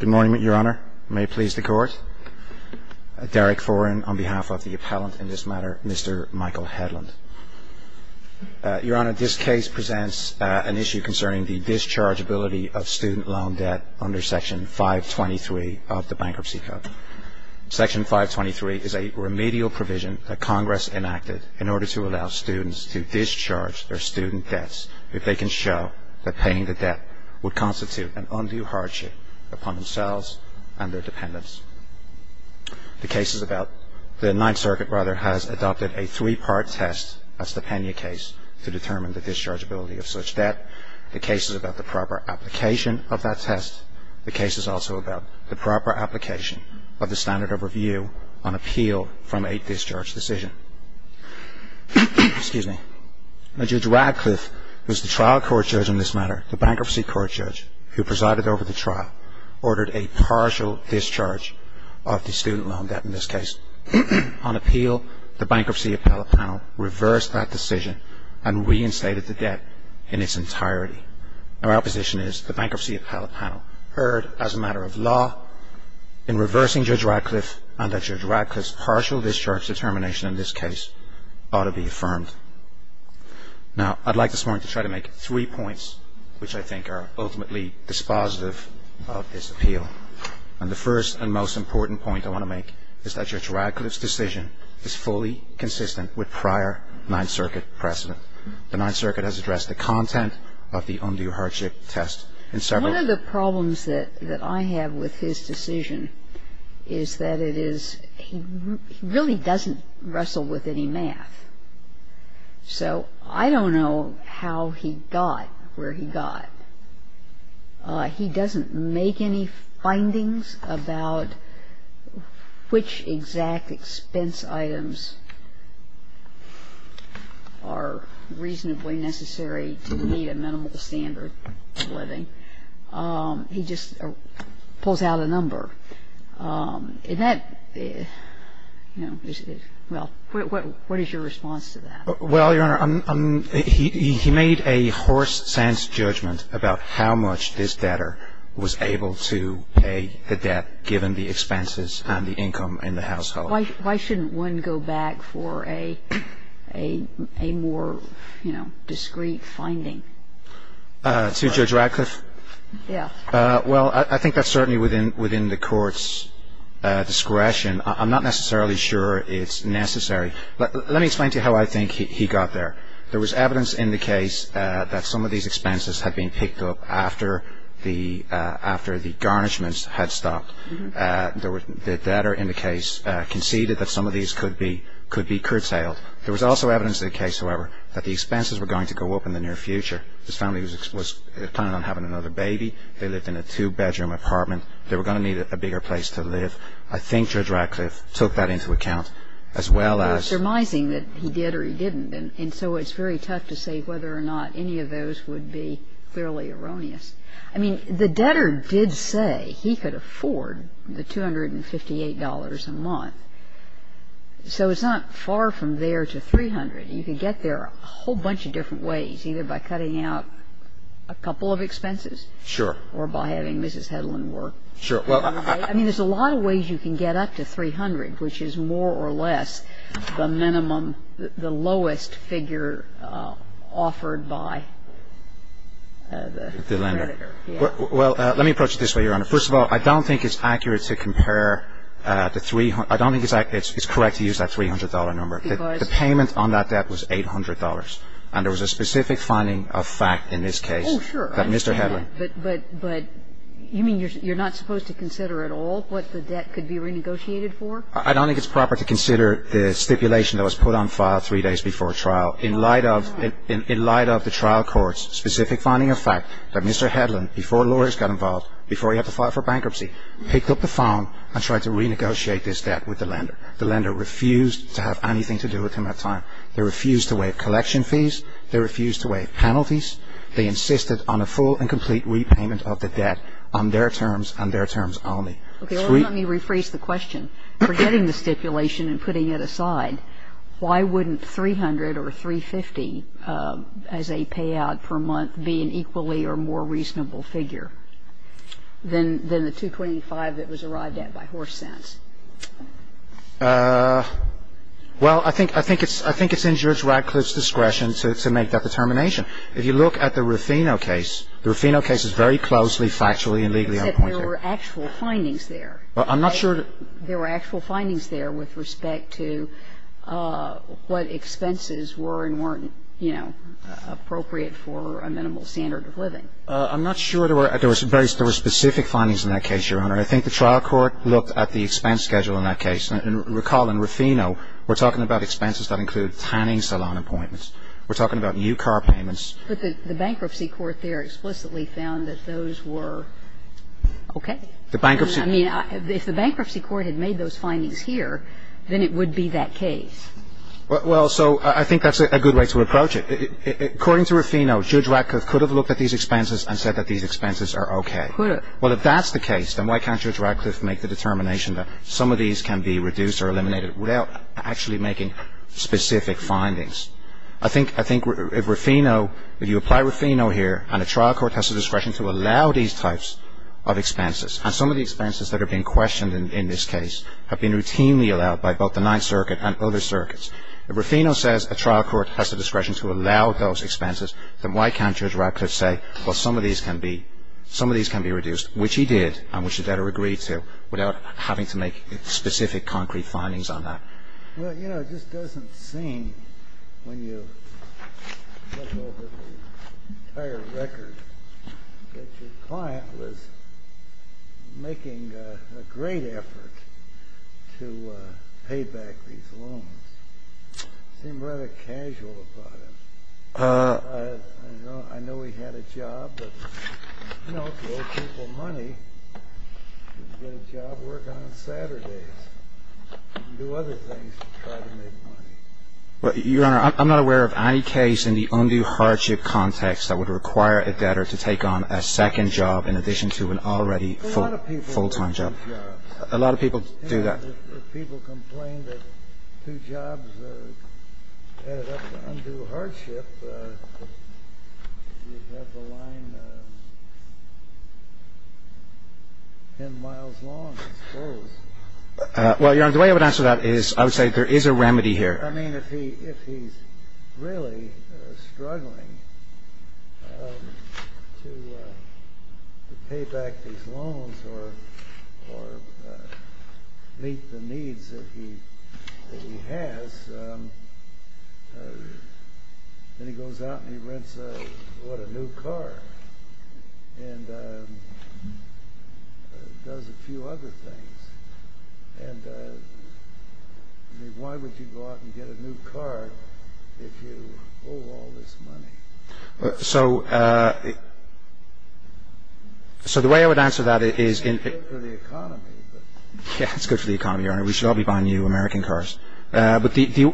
Good morning, Your Honour. May it please the Court. Derek Foran on behalf of the appellant in this matter, Mr. Michael Hedlund. Your Honour, this case presents an issue concerning the dischargeability of student loan debt under Section 523 of the Bankruptcy Code. Section 523 is a remedial provision that Congress enacted in order to allow students to discharge their student debts if they can show that paying the debt would constitute an undue hardship upon themselves and their dependents. The Ninth Circuit has adopted a three-part test, as the Pena case, to determine the dischargeability of such debt. The case is about the proper application of that test. The case is also about the proper application of the standard of review on appeal from a discharge decision. Judge Radcliffe, who is the trial court judge in this matter, the bankruptcy court judge who presided over the trial, ordered a partial discharge of the student loan debt in this case. On appeal, the Bankruptcy Appellate Panel reversed that decision and reinstated the debt in its entirety. Our opposition is the Bankruptcy Appellate Panel heard as a matter of law in reversing Judge Radcliffe and that Judge Radcliffe's partial discharge determination in this case ought to be affirmed. Now, I'd like this morning to try to make three points which I think are ultimately dispositive of this appeal. And the first and most important point I want to make is that Judge Radcliffe's decision is fully consistent with prior Ninth Circuit precedent. The Ninth Circuit has addressed the content of the undue hardship test in several cases. The second point that I have with his decision is that it is he really doesn't wrestle with any math. So I don't know how he got where he got. He doesn't make any findings about which exact expense items are reasonably necessary to meet a minimal standard of living. He just pulls out a number. And that, you know, well, what is your response to that? Well, Your Honor, he made a horse-sense judgment about how much this debtor was able to pay the debt given the expenses and the income in the household. Why shouldn't one go back for a more, you know, discreet finding? To Judge Radcliffe? Yes. Well, I think that's certainly within the Court's discretion. I'm not necessarily sure it's necessary. Let me explain to you how I think he got there. There was evidence in the case that some of these expenses had been picked up after the garnishments had stopped. The debtor in the case conceded that some of these could be curtailed. There was also evidence in the case, however, that the expenses were going to go up in the near future. His family was planning on having another baby. They lived in a two-bedroom apartment. They were going to need a bigger place to live. I think Judge Radcliffe took that into account, as well as ---- Well, it's surmising that he did or he didn't. And so it's very tough to say whether or not any of those would be fairly erroneous. I mean, the debtor did say he could afford the $258 a month. So it's not far from there to $300. You could get there a whole bunch of different ways, either by cutting out a couple of expenses. Sure. Or by having Mrs. Hedlund work. Sure. I mean, there's a lot of ways you can get up to $300, which is more or less the minimum, the lowest figure offered by the creditor. Well, let me approach it this way, Your Honor. First of all, I don't think it's accurate to compare the $300. I don't think it's correct to use that $300 number. Because? The payment on that debt was $800. And there was a specific finding of fact in this case that Mr. Hedlund ---- I don't think it's proper to consider at all what the debt could be renegotiated for. I don't think it's proper to consider the stipulation that was put on file three days before trial in light of the trial court's specific finding of fact that Mr. Hedlund, before lawyers got involved, before he had to file for bankruptcy, picked up the phone and tried to renegotiate this debt with the lender. The lender refused to have anything to do with him at the time. They refused to waive collection fees. They refused to waive penalties. They insisted on a full and complete repayment of the debt on their terms and their terms only. Three ---- Okay. Well, let me rephrase the question. Forgetting the stipulation and putting it aside, why wouldn't $300 or $350 as a payout per month be an equally or more reasonable figure than the $225 that was arrived at by horse sense? Well, I think it's in Judge Radcliffe's discretion to make that determination. If you look at the Ruffino case, the Ruffino case is very closely, factually and legally unappointed. Except there were actual findings there. I'm not sure that ---- There were actual findings there with respect to what expenses were and weren't, you know, appropriate for a minimal standard of living. I'm not sure there were ---- There were specific findings in that case, Your Honor. And I think the trial court looked at the expense schedule in that case. And recall in Ruffino, we're talking about expenses that include tanning salon appointments. We're talking about new car payments. But the bankruptcy court there explicitly found that those were okay. The bankruptcy ---- I mean, if the bankruptcy court had made those findings here, then it would be that case. Well, so I think that's a good way to approach it. According to Ruffino, Judge Radcliffe could have looked at these expenses and said that these expenses are okay. Could have. Well, if that's the case, then why can't Judge Radcliffe make the determination that some of these can be reduced or eliminated without actually making specific findings? I think Ruffino, if you apply Ruffino here and a trial court has the discretion to allow these types of expenses, and some of the expenses that are being questioned in this case have been routinely allowed by both the Ninth Circuit and other circuits. If Ruffino says a trial court has the discretion to allow those expenses, then why can't Judge Radcliffe say, well, some of these can be reduced, which he did and which the debtor agreed to, without having to make specific, concrete findings on that? Well, you know, it just doesn't seem, when you look over the entire record, that your client was making a great effort to pay back these loans. It seemed rather casual about it. I know he had a job, but, you know, if you owe people money, you can get a job working on Saturdays. You can do other things to try to make money. Your Honor, I'm not aware of any case in the undue hardship context that would require a debtor to take on a second job in addition to an already full-time job. A lot of people do that. If people complained that two jobs added up to undue hardship, you'd have the line 10 miles long. It's close. Well, Your Honor, the way I would answer that is I would say there is a remedy here. I mean, if he's really struggling to pay back these loans or meet the needs that he has, then he goes out and he rents a new car and does a few other things. And, I mean, why would you go out and get a new car if you owe all this money? So the way I would answer that is... It's good for the economy, but... Yeah, it's good for the economy, Your Honor. We should all be buying new American cars. But if you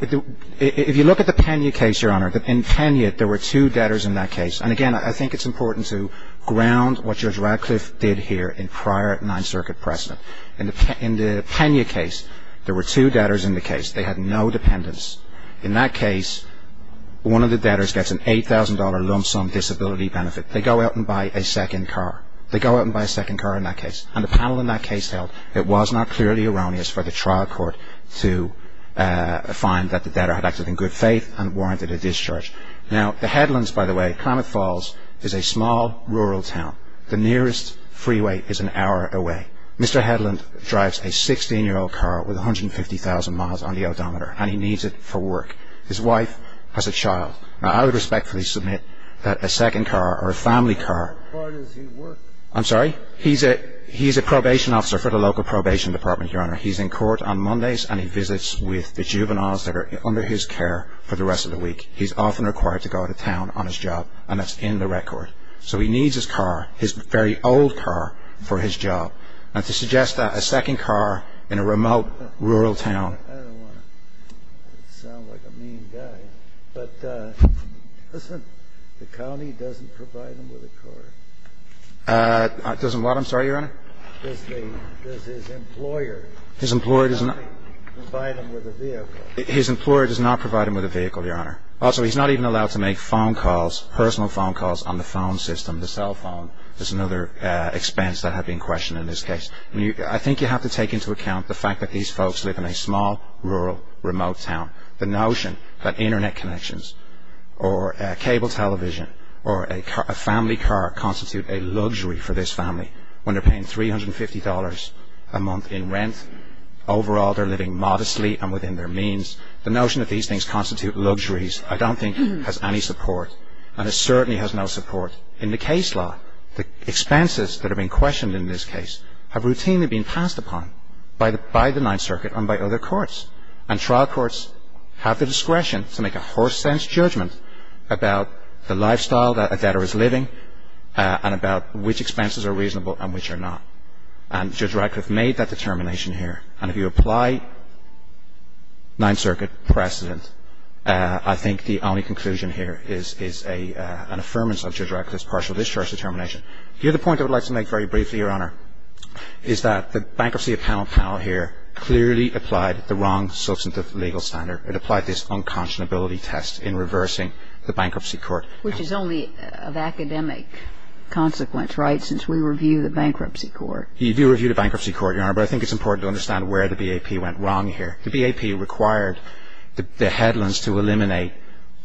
look at the Pena case, Your Honor, in Pena there were two debtors in that case. And, again, I think it's important to ground what Judge Radcliffe did here in prior Ninth Circuit precedent. In the Pena case, there were two debtors in the case. They had no dependents. In that case, one of the debtors gets an $8,000 lump sum disability benefit. They go out and buy a second car. They go out and buy a second car in that case. And the panel in that case held it was not clearly erroneous for the trial court to find that the debtor had acted in good faith and warranted a discharge. Now, the headlands, by the way, Klamath Falls, is a small rural town. The nearest freeway is an hour away. Mr. Headland drives a 16-year-old car with 150,000 miles on the odometer, and he needs it for work. His wife has a child. Now, I would respectfully submit that a second car or a family car... What part is he working? I'm sorry? He's a probation officer for the local probation department, Your Honor. He's in court on Mondays, and he visits with the juveniles that are under his care for the rest of the week. He's often required to go out of town on his job, and that's in the record. So he needs his car, his very old car, for his job. And to suggest that a second car in a remote rural town... I don't want to sound like a mean guy, but doesn't the county provide him with a car? Doesn't what? I'm sorry, Your Honor? Does his employer provide him with a vehicle? His employer does not provide him with a vehicle, Your Honor. Also, he's not even allowed to make phone calls, personal phone calls, on the phone system, the cell phone. That's another expense that had been questioned in this case. I think you have to take into account the fact that these folks live in a small, rural, remote town. The notion that Internet connections or cable television or a family car constitute a luxury for this family, when they're paying $350 a month in rent. Overall, they're living modestly and within their means. The notion that these things constitute luxuries I don't think has any support, and it certainly has no support. In the case law, the expenses that have been questioned in this case have routinely been passed upon by the Ninth Circuit and by other courts, and trial courts have the discretion to make a horse-sense judgment about the lifestyle that a debtor is living and about which expenses are reasonable and which are not. And Judge Radcliffe made that determination here. And if you apply Ninth Circuit precedent, I think the only conclusion here is an affirmance of Judge Radcliffe's partial discharge determination. The other point I would like to make very briefly, Your Honor, is that the bankruptcy appellate panel here clearly applied the wrong substantive legal standard. It applied this unconscionability test in reversing the bankruptcy court. Which is only of academic consequence, right, since we review the bankruptcy court. You do review the bankruptcy court, Your Honor, but I think it's important to understand where the BAP went wrong here. The BAP required the headlands to eliminate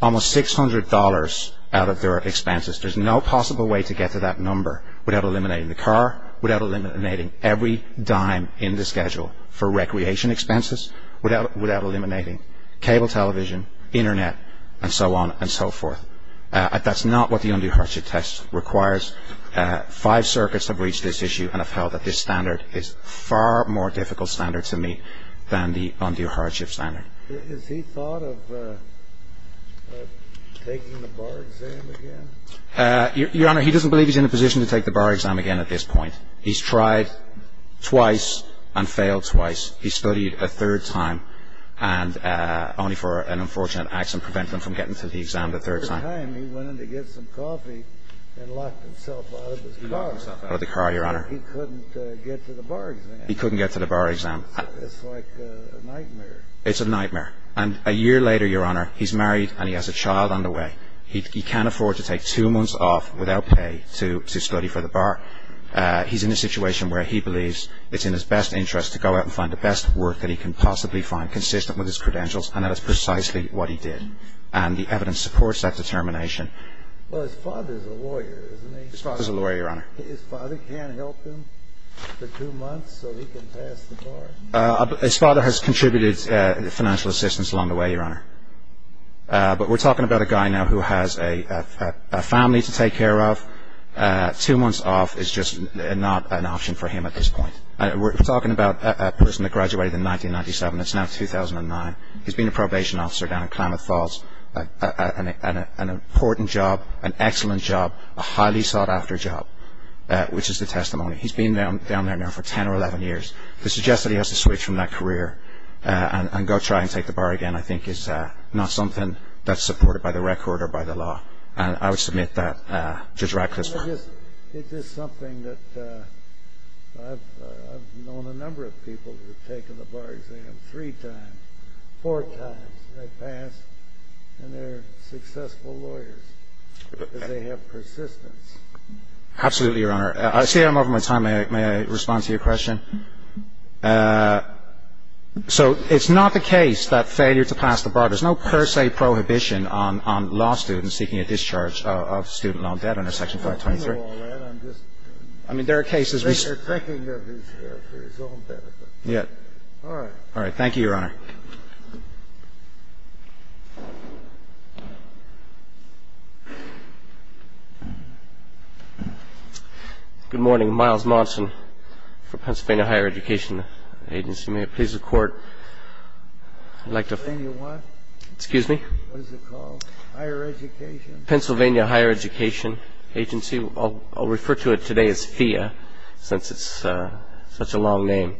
almost $600 out of their expenses. There's no possible way to get to that number without eliminating the car, without eliminating every dime in the schedule for recreation expenses, without eliminating cable television, Internet, and so on and so forth. That's not what the undue hardship test requires. Five circuits have reached this issue and have held that this standard is far more difficult standard to meet than the undue hardship standard. Has he thought of taking the bar exam again? Your Honor, he doesn't believe he's in a position to take the bar exam again at this point. He's tried twice and failed twice. He studied a third time only for an unfortunate accident preventing him from getting to the exam the third time. The third time he went in to get some coffee and locked himself out of his car. He locked himself out of the car, Your Honor. He couldn't get to the bar exam. He couldn't get to the bar exam. It's like a nightmare. It's a nightmare. And a year later, Your Honor, he's married and he has a child on the way. He can't afford to take two months off without pay to study for the bar. He's in a situation where he believes it's in his best interest to go out and find the best work that he can possibly find, consistent with his credentials, and that is precisely what he did. And the evidence supports that determination. Well, his father is a lawyer, isn't he? His father is a lawyer, Your Honor. His father can't help him for two months so he can pass the bar? His father has contributed financial assistance along the way, Your Honor. But we're talking about a guy now who has a family to take care of. Two months off is just not an option for him at this point. We're talking about a person that graduated in 1997. It's now 2009. He's been a probation officer down in Klamath Falls, an important job, an excellent job, a highly sought-after job, which is the testimony. He's been down there now for 10 or 11 years. The suggestion that he has to switch from that career and go try and take the bar again, I think, is not something that's supported by the record or by the law. And I would submit that Judge Ratcliffe's right. It is something that I've known a number of people who have taken the bar exam three times, four times. They pass, and they're successful lawyers because they have persistence. Absolutely, Your Honor. I see I'm over my time. May I respond to your question? So it's not the case that failure to pass the bar, there's no per se prohibition on law students seeking a discharge of student loan debt under Section 523. I mean, there are cases we see. They're thinking of his own benefit. All right. All right. Thank you, Your Honor. Good morning. Miles Monson for Pennsylvania Higher Education Agency. May it please the Court? Pennsylvania what? Excuse me? What is it called? Higher Education? Pennsylvania Higher Education Agency. I'll refer to it today as FHIA since it's such a long name.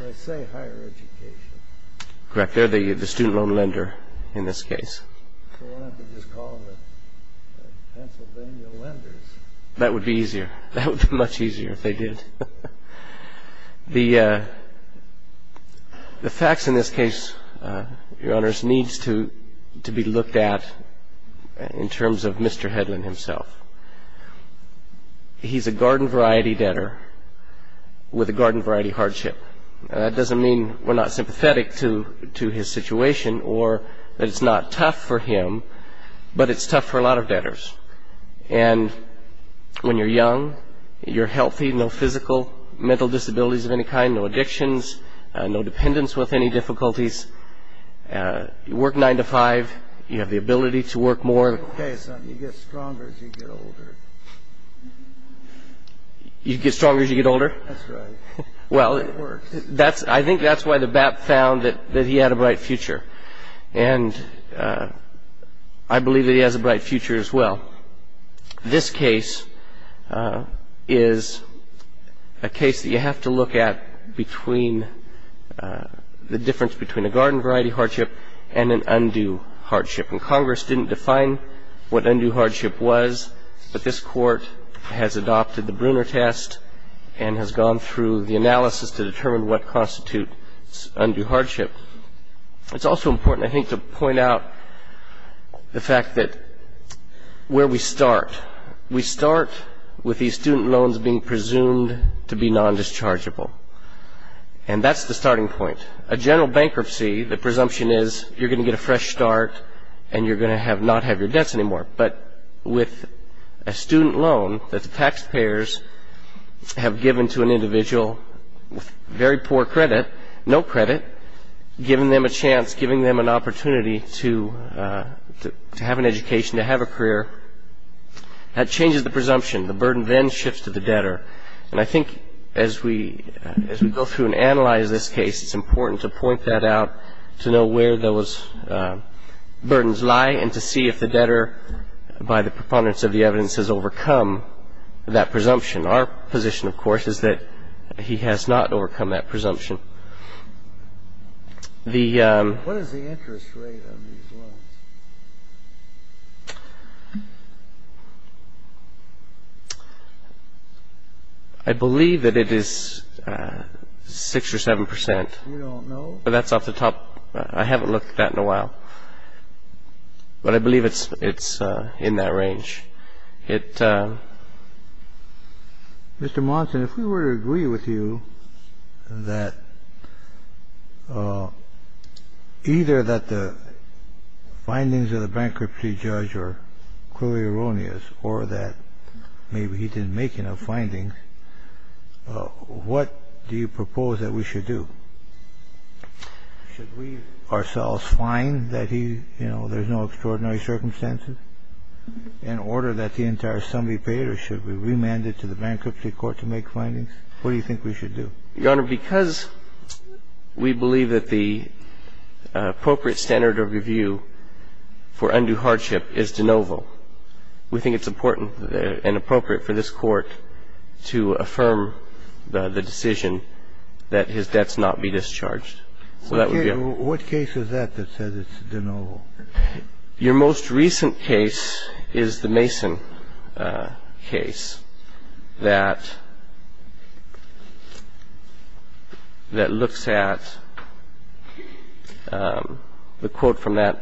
Did I say higher education? Correct. They're the student loan lender in this case. So we'll have to just call them Pennsylvania lenders. That would be easier. That would be much easier if they did. The facts in this case, Your Honors, needs to be looked at in terms of Mr. Headland himself. He's a garden variety debtor with a garden variety hardship. That doesn't mean we're not sympathetic to his situation or that it's not tough for him, but it's tough for a lot of debtors. And when you're young, you're healthy, no physical, mental disabilities of any kind, no addictions, no dependence with any difficulties. You work nine to five. You have the ability to work more. You get stronger as you get older. You get stronger as you get older? That's right. Well, I think that's why the BAP found that he had a bright future. And I believe that he has a bright future as well. This case is a case that you have to look at between the difference between a garden variety hardship and an undue hardship. And Congress didn't define what undue hardship was, but this Court has adopted the Brunner test and has gone through the analysis to determine what constitutes undue hardship. It's also important, I think, to point out the fact that where we start. We start with these student loans being presumed to be non-dischargeable. And that's the starting point. A general bankruptcy, the presumption is you're going to get a fresh start and you're going to not have your debts anymore. But with a student loan that the taxpayers have given to an individual with very poor credit, no credit, giving them a chance, giving them an opportunity to have an education, to have a career, that changes the presumption. The burden then shifts to the debtor. And I think as we go through and analyze this case, it's important to point that out, to know where those burdens lie and to see if the debtor, by the preponderance of the evidence, has overcome that presumption. Our position, of course, is that he has not overcome that presumption. What is the interest rate on these loans? I believe that it is 6 or 7 percent. We don't know? That's off the top. I haven't looked at it in a while. But I believe it's in that range. Mr. Monson, if we were to agree with you that either that the findings of the bankruptcy judge are clearly erroneous or that maybe he didn't make enough findings, what do you propose that we should do? Should we ourselves find that he, you know, there's no extraordinary circumstances in order that the entire sum be paid? Or should we remand it to the bankruptcy court to make findings? What do you think we should do? Your Honor, because we believe that the appropriate standard of review for undue hardship is de novo, we think it's important and appropriate for this Court to affirm the decision that his debts not be discharged. What case is that that says it's de novo? Your most recent case is the Mason case that looks at the quote from that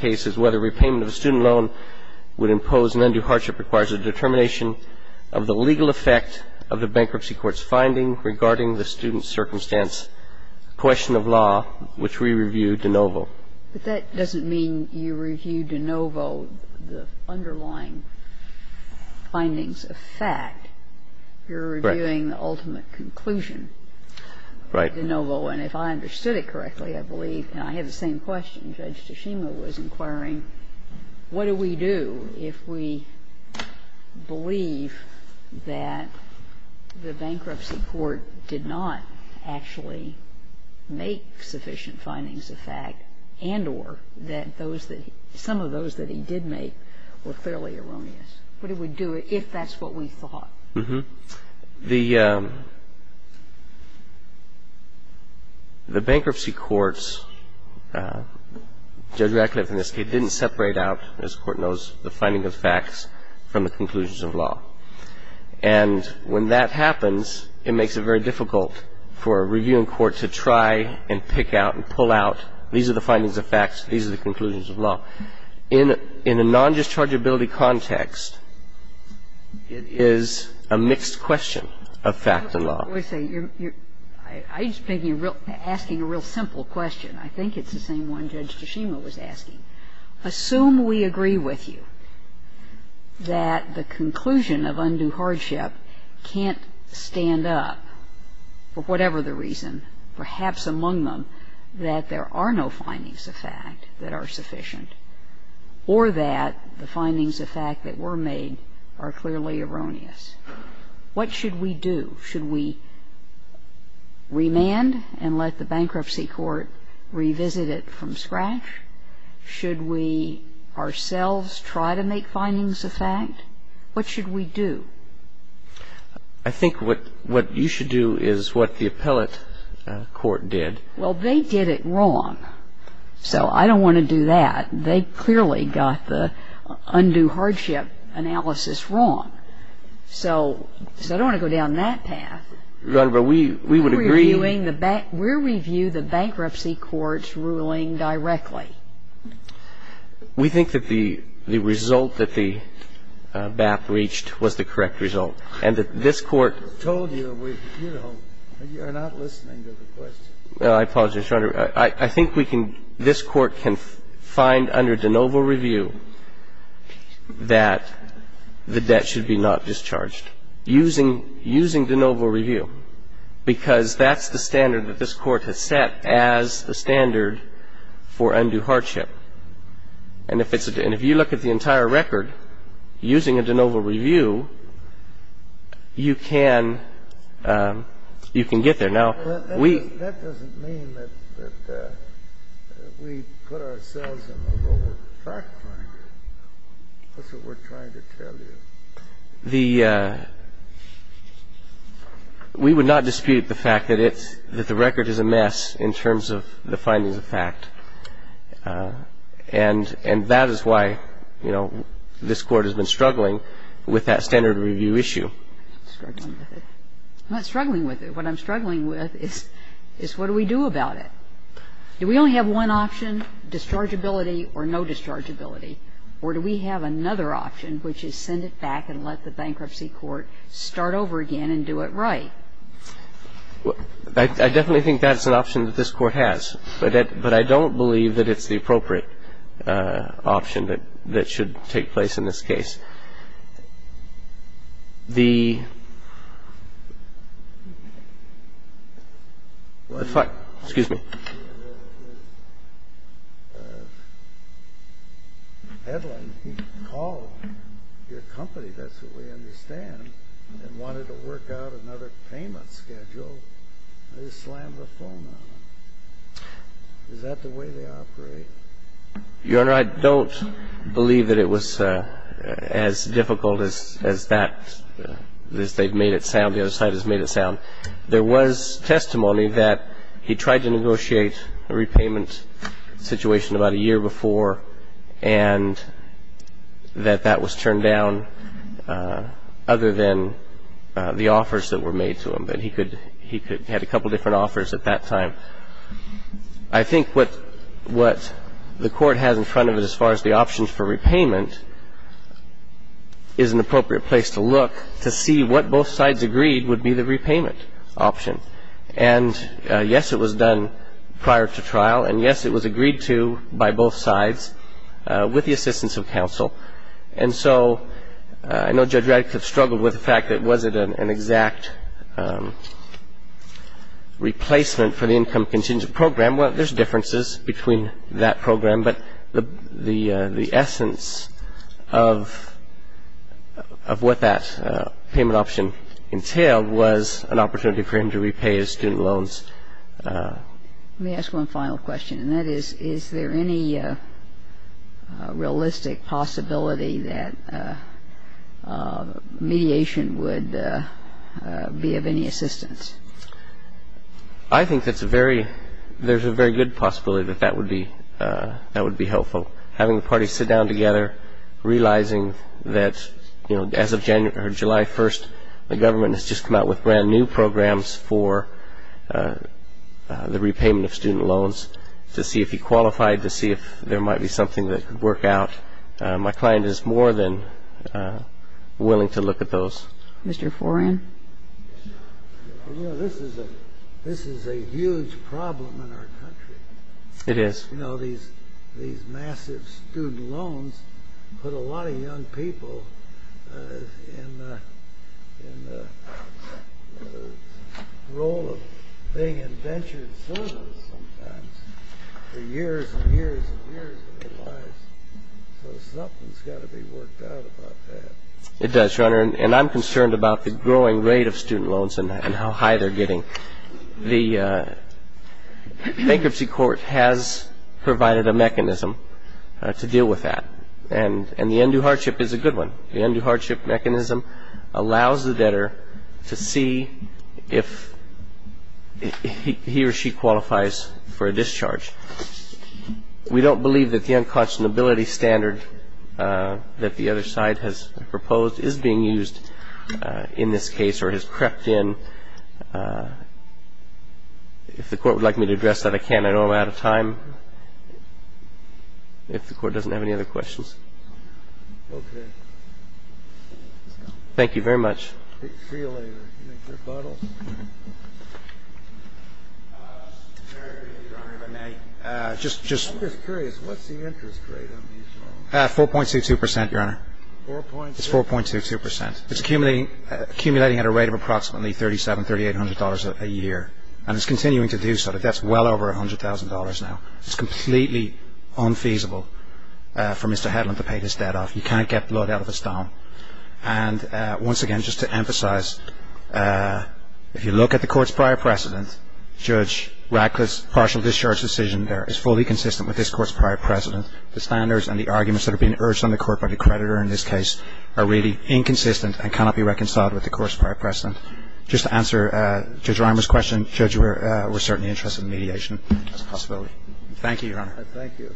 case is, quote, But that doesn't mean you review de novo the underlying findings of fact. You're reviewing the ultimate conclusion. Right. De novo. And if I understood it correctly, I believe, and I had the same question. Judge Toshima was inquiring, what do we do if we believe that the bankruptcy court did not actually make sufficient findings of fact and or that those that he – some of those that he did make were clearly erroneous? What do we do if that's what we thought? The bankruptcy courts, Judge Radcliffe in this case, didn't separate out, as the Court knows, the findings of facts from the conclusions of law. And when that happens, it makes it very difficult for a reviewing court to try and pick out and pull out, these are the findings of facts, these are the conclusions of law. In a non-dischargeability context, it is a mixed question of fact and law. I just think you're asking a real simple question. I think it's the same one Judge Toshima was asking. Assume we agree with you that the conclusion of undue hardship can't stand up for whatever the reason, perhaps among them, that there are no findings of fact that are sufficient or that the findings of fact that were made are clearly erroneous. What should we do? Should we remand and let the bankruptcy court revisit it from scratch? Should we ourselves try to make findings of fact? What should we do? I think what you should do is what the appellate court did. Well, they did it wrong. So I don't want to do that. They clearly got the undue hardship analysis wrong. So I don't want to go down that path. Your Honor, but we would agree. We're reviewing the bankruptcy court's ruling directly. We think that the result that the BAP reached was the correct result. And that this Court told you, you know, you're not listening to the question. I apologize, Your Honor. I think this Court can find under de novo review that the debt should be not discharged using de novo review because that's the standard that this Court has set as the standard for undue hardship. And if you look at the entire record, using a de novo review, you can get there. Now, we That doesn't mean that we put ourselves in the lower track finding. That's what we're trying to tell you. The we would not dispute the fact that the record is a mess in terms of the findings of fact. And that is why, you know, this Court has been struggling with that standard review issue. Struggling with it. I'm not struggling with it. What I'm struggling with is what do we do about it? Do we only have one option, dischargeability or no dischargeability? Or do we have another option, which is send it back and let the bankruptcy court start over again and do it right? I definitely think that's an option that this Court has. But I don't believe that it's the appropriate option that should take place in this case. The Excuse me. Edlin called your company, that's what we understand, and wanted to work out another payment schedule. They just slammed the phone on him. Is that the way they operate? Your Honor, I don't believe that it was as difficult as that. They've made it sound, the other side has made it sound. There was testimony that he tried to negotiate a repayment situation about a year before, and that that was turned down other than the offers that were made to him. He had a couple different offers at that time. But I think what the Court has in front of it as far as the options for repayment is an appropriate place to look to see what both sides agreed would be the repayment option. And, yes, it was done prior to trial, and, yes, it was agreed to by both sides with the assistance of counsel. And so I know Judge Raddick has struggled with the fact that was it an exact replacement for the income contingent program. Well, there's differences between that program, but the essence of what that payment option entailed was an opportunity for him to repay his student loans. Let me ask one final question, and that is, is there any realistic possibility that mediation would be of any assistance? I think there's a very good possibility that that would be helpful. Having the parties sit down together, realizing that, you know, as of July 1st, the government has just come out with brand-new programs for the repayment of student loans to see if he qualified, to see if there might be something that could work out. My client is more than willing to look at those. Mr. Foran? You know, this is a huge problem in our country. It is. You know, these massive student loans put a lot of young people in the role of being in ventured services sometimes for years and years and years of their lives. So something's got to be worked out about that. It does, Your Honor, and I'm concerned about the growing rate of student loans and how high they're getting. The bankruptcy court has provided a mechanism to deal with that, and the end-do hardship is a good one. The end-do hardship mechanism allows the debtor to see if he or she qualifies for a discharge. We don't believe that the unconscionability standard that the other side has proposed is being used in this case or has crept in. If the court would like me to address that, I can. I know I'm out of time. If the court doesn't have any other questions. Okay. Thank you very much. See you later. I'm just curious, what's the interest rate on these loans? 4.22%, Your Honor. It's 4.22%. It's accumulating at a rate of approximately $3,700, $3,800 a year, and it's continuing to do so. The debt's well over $100,000 now. It's completely unfeasible for Mr. Hedlund to pay this debt off. You can't get blood out of a stone. Once again, just to emphasize, if you look at the court's prior precedent, Judge Radcliffe's partial discharge decision there is fully consistent with this court's prior precedent. The standards and the arguments that are being urged on the court by the creditor in this case are really inconsistent and cannot be reconciled with the court's prior precedent. Just to answer Judge Reimer's question, Judge, we're certainly interested in mediation as a possibility. Thank you, Your Honor. Thank you.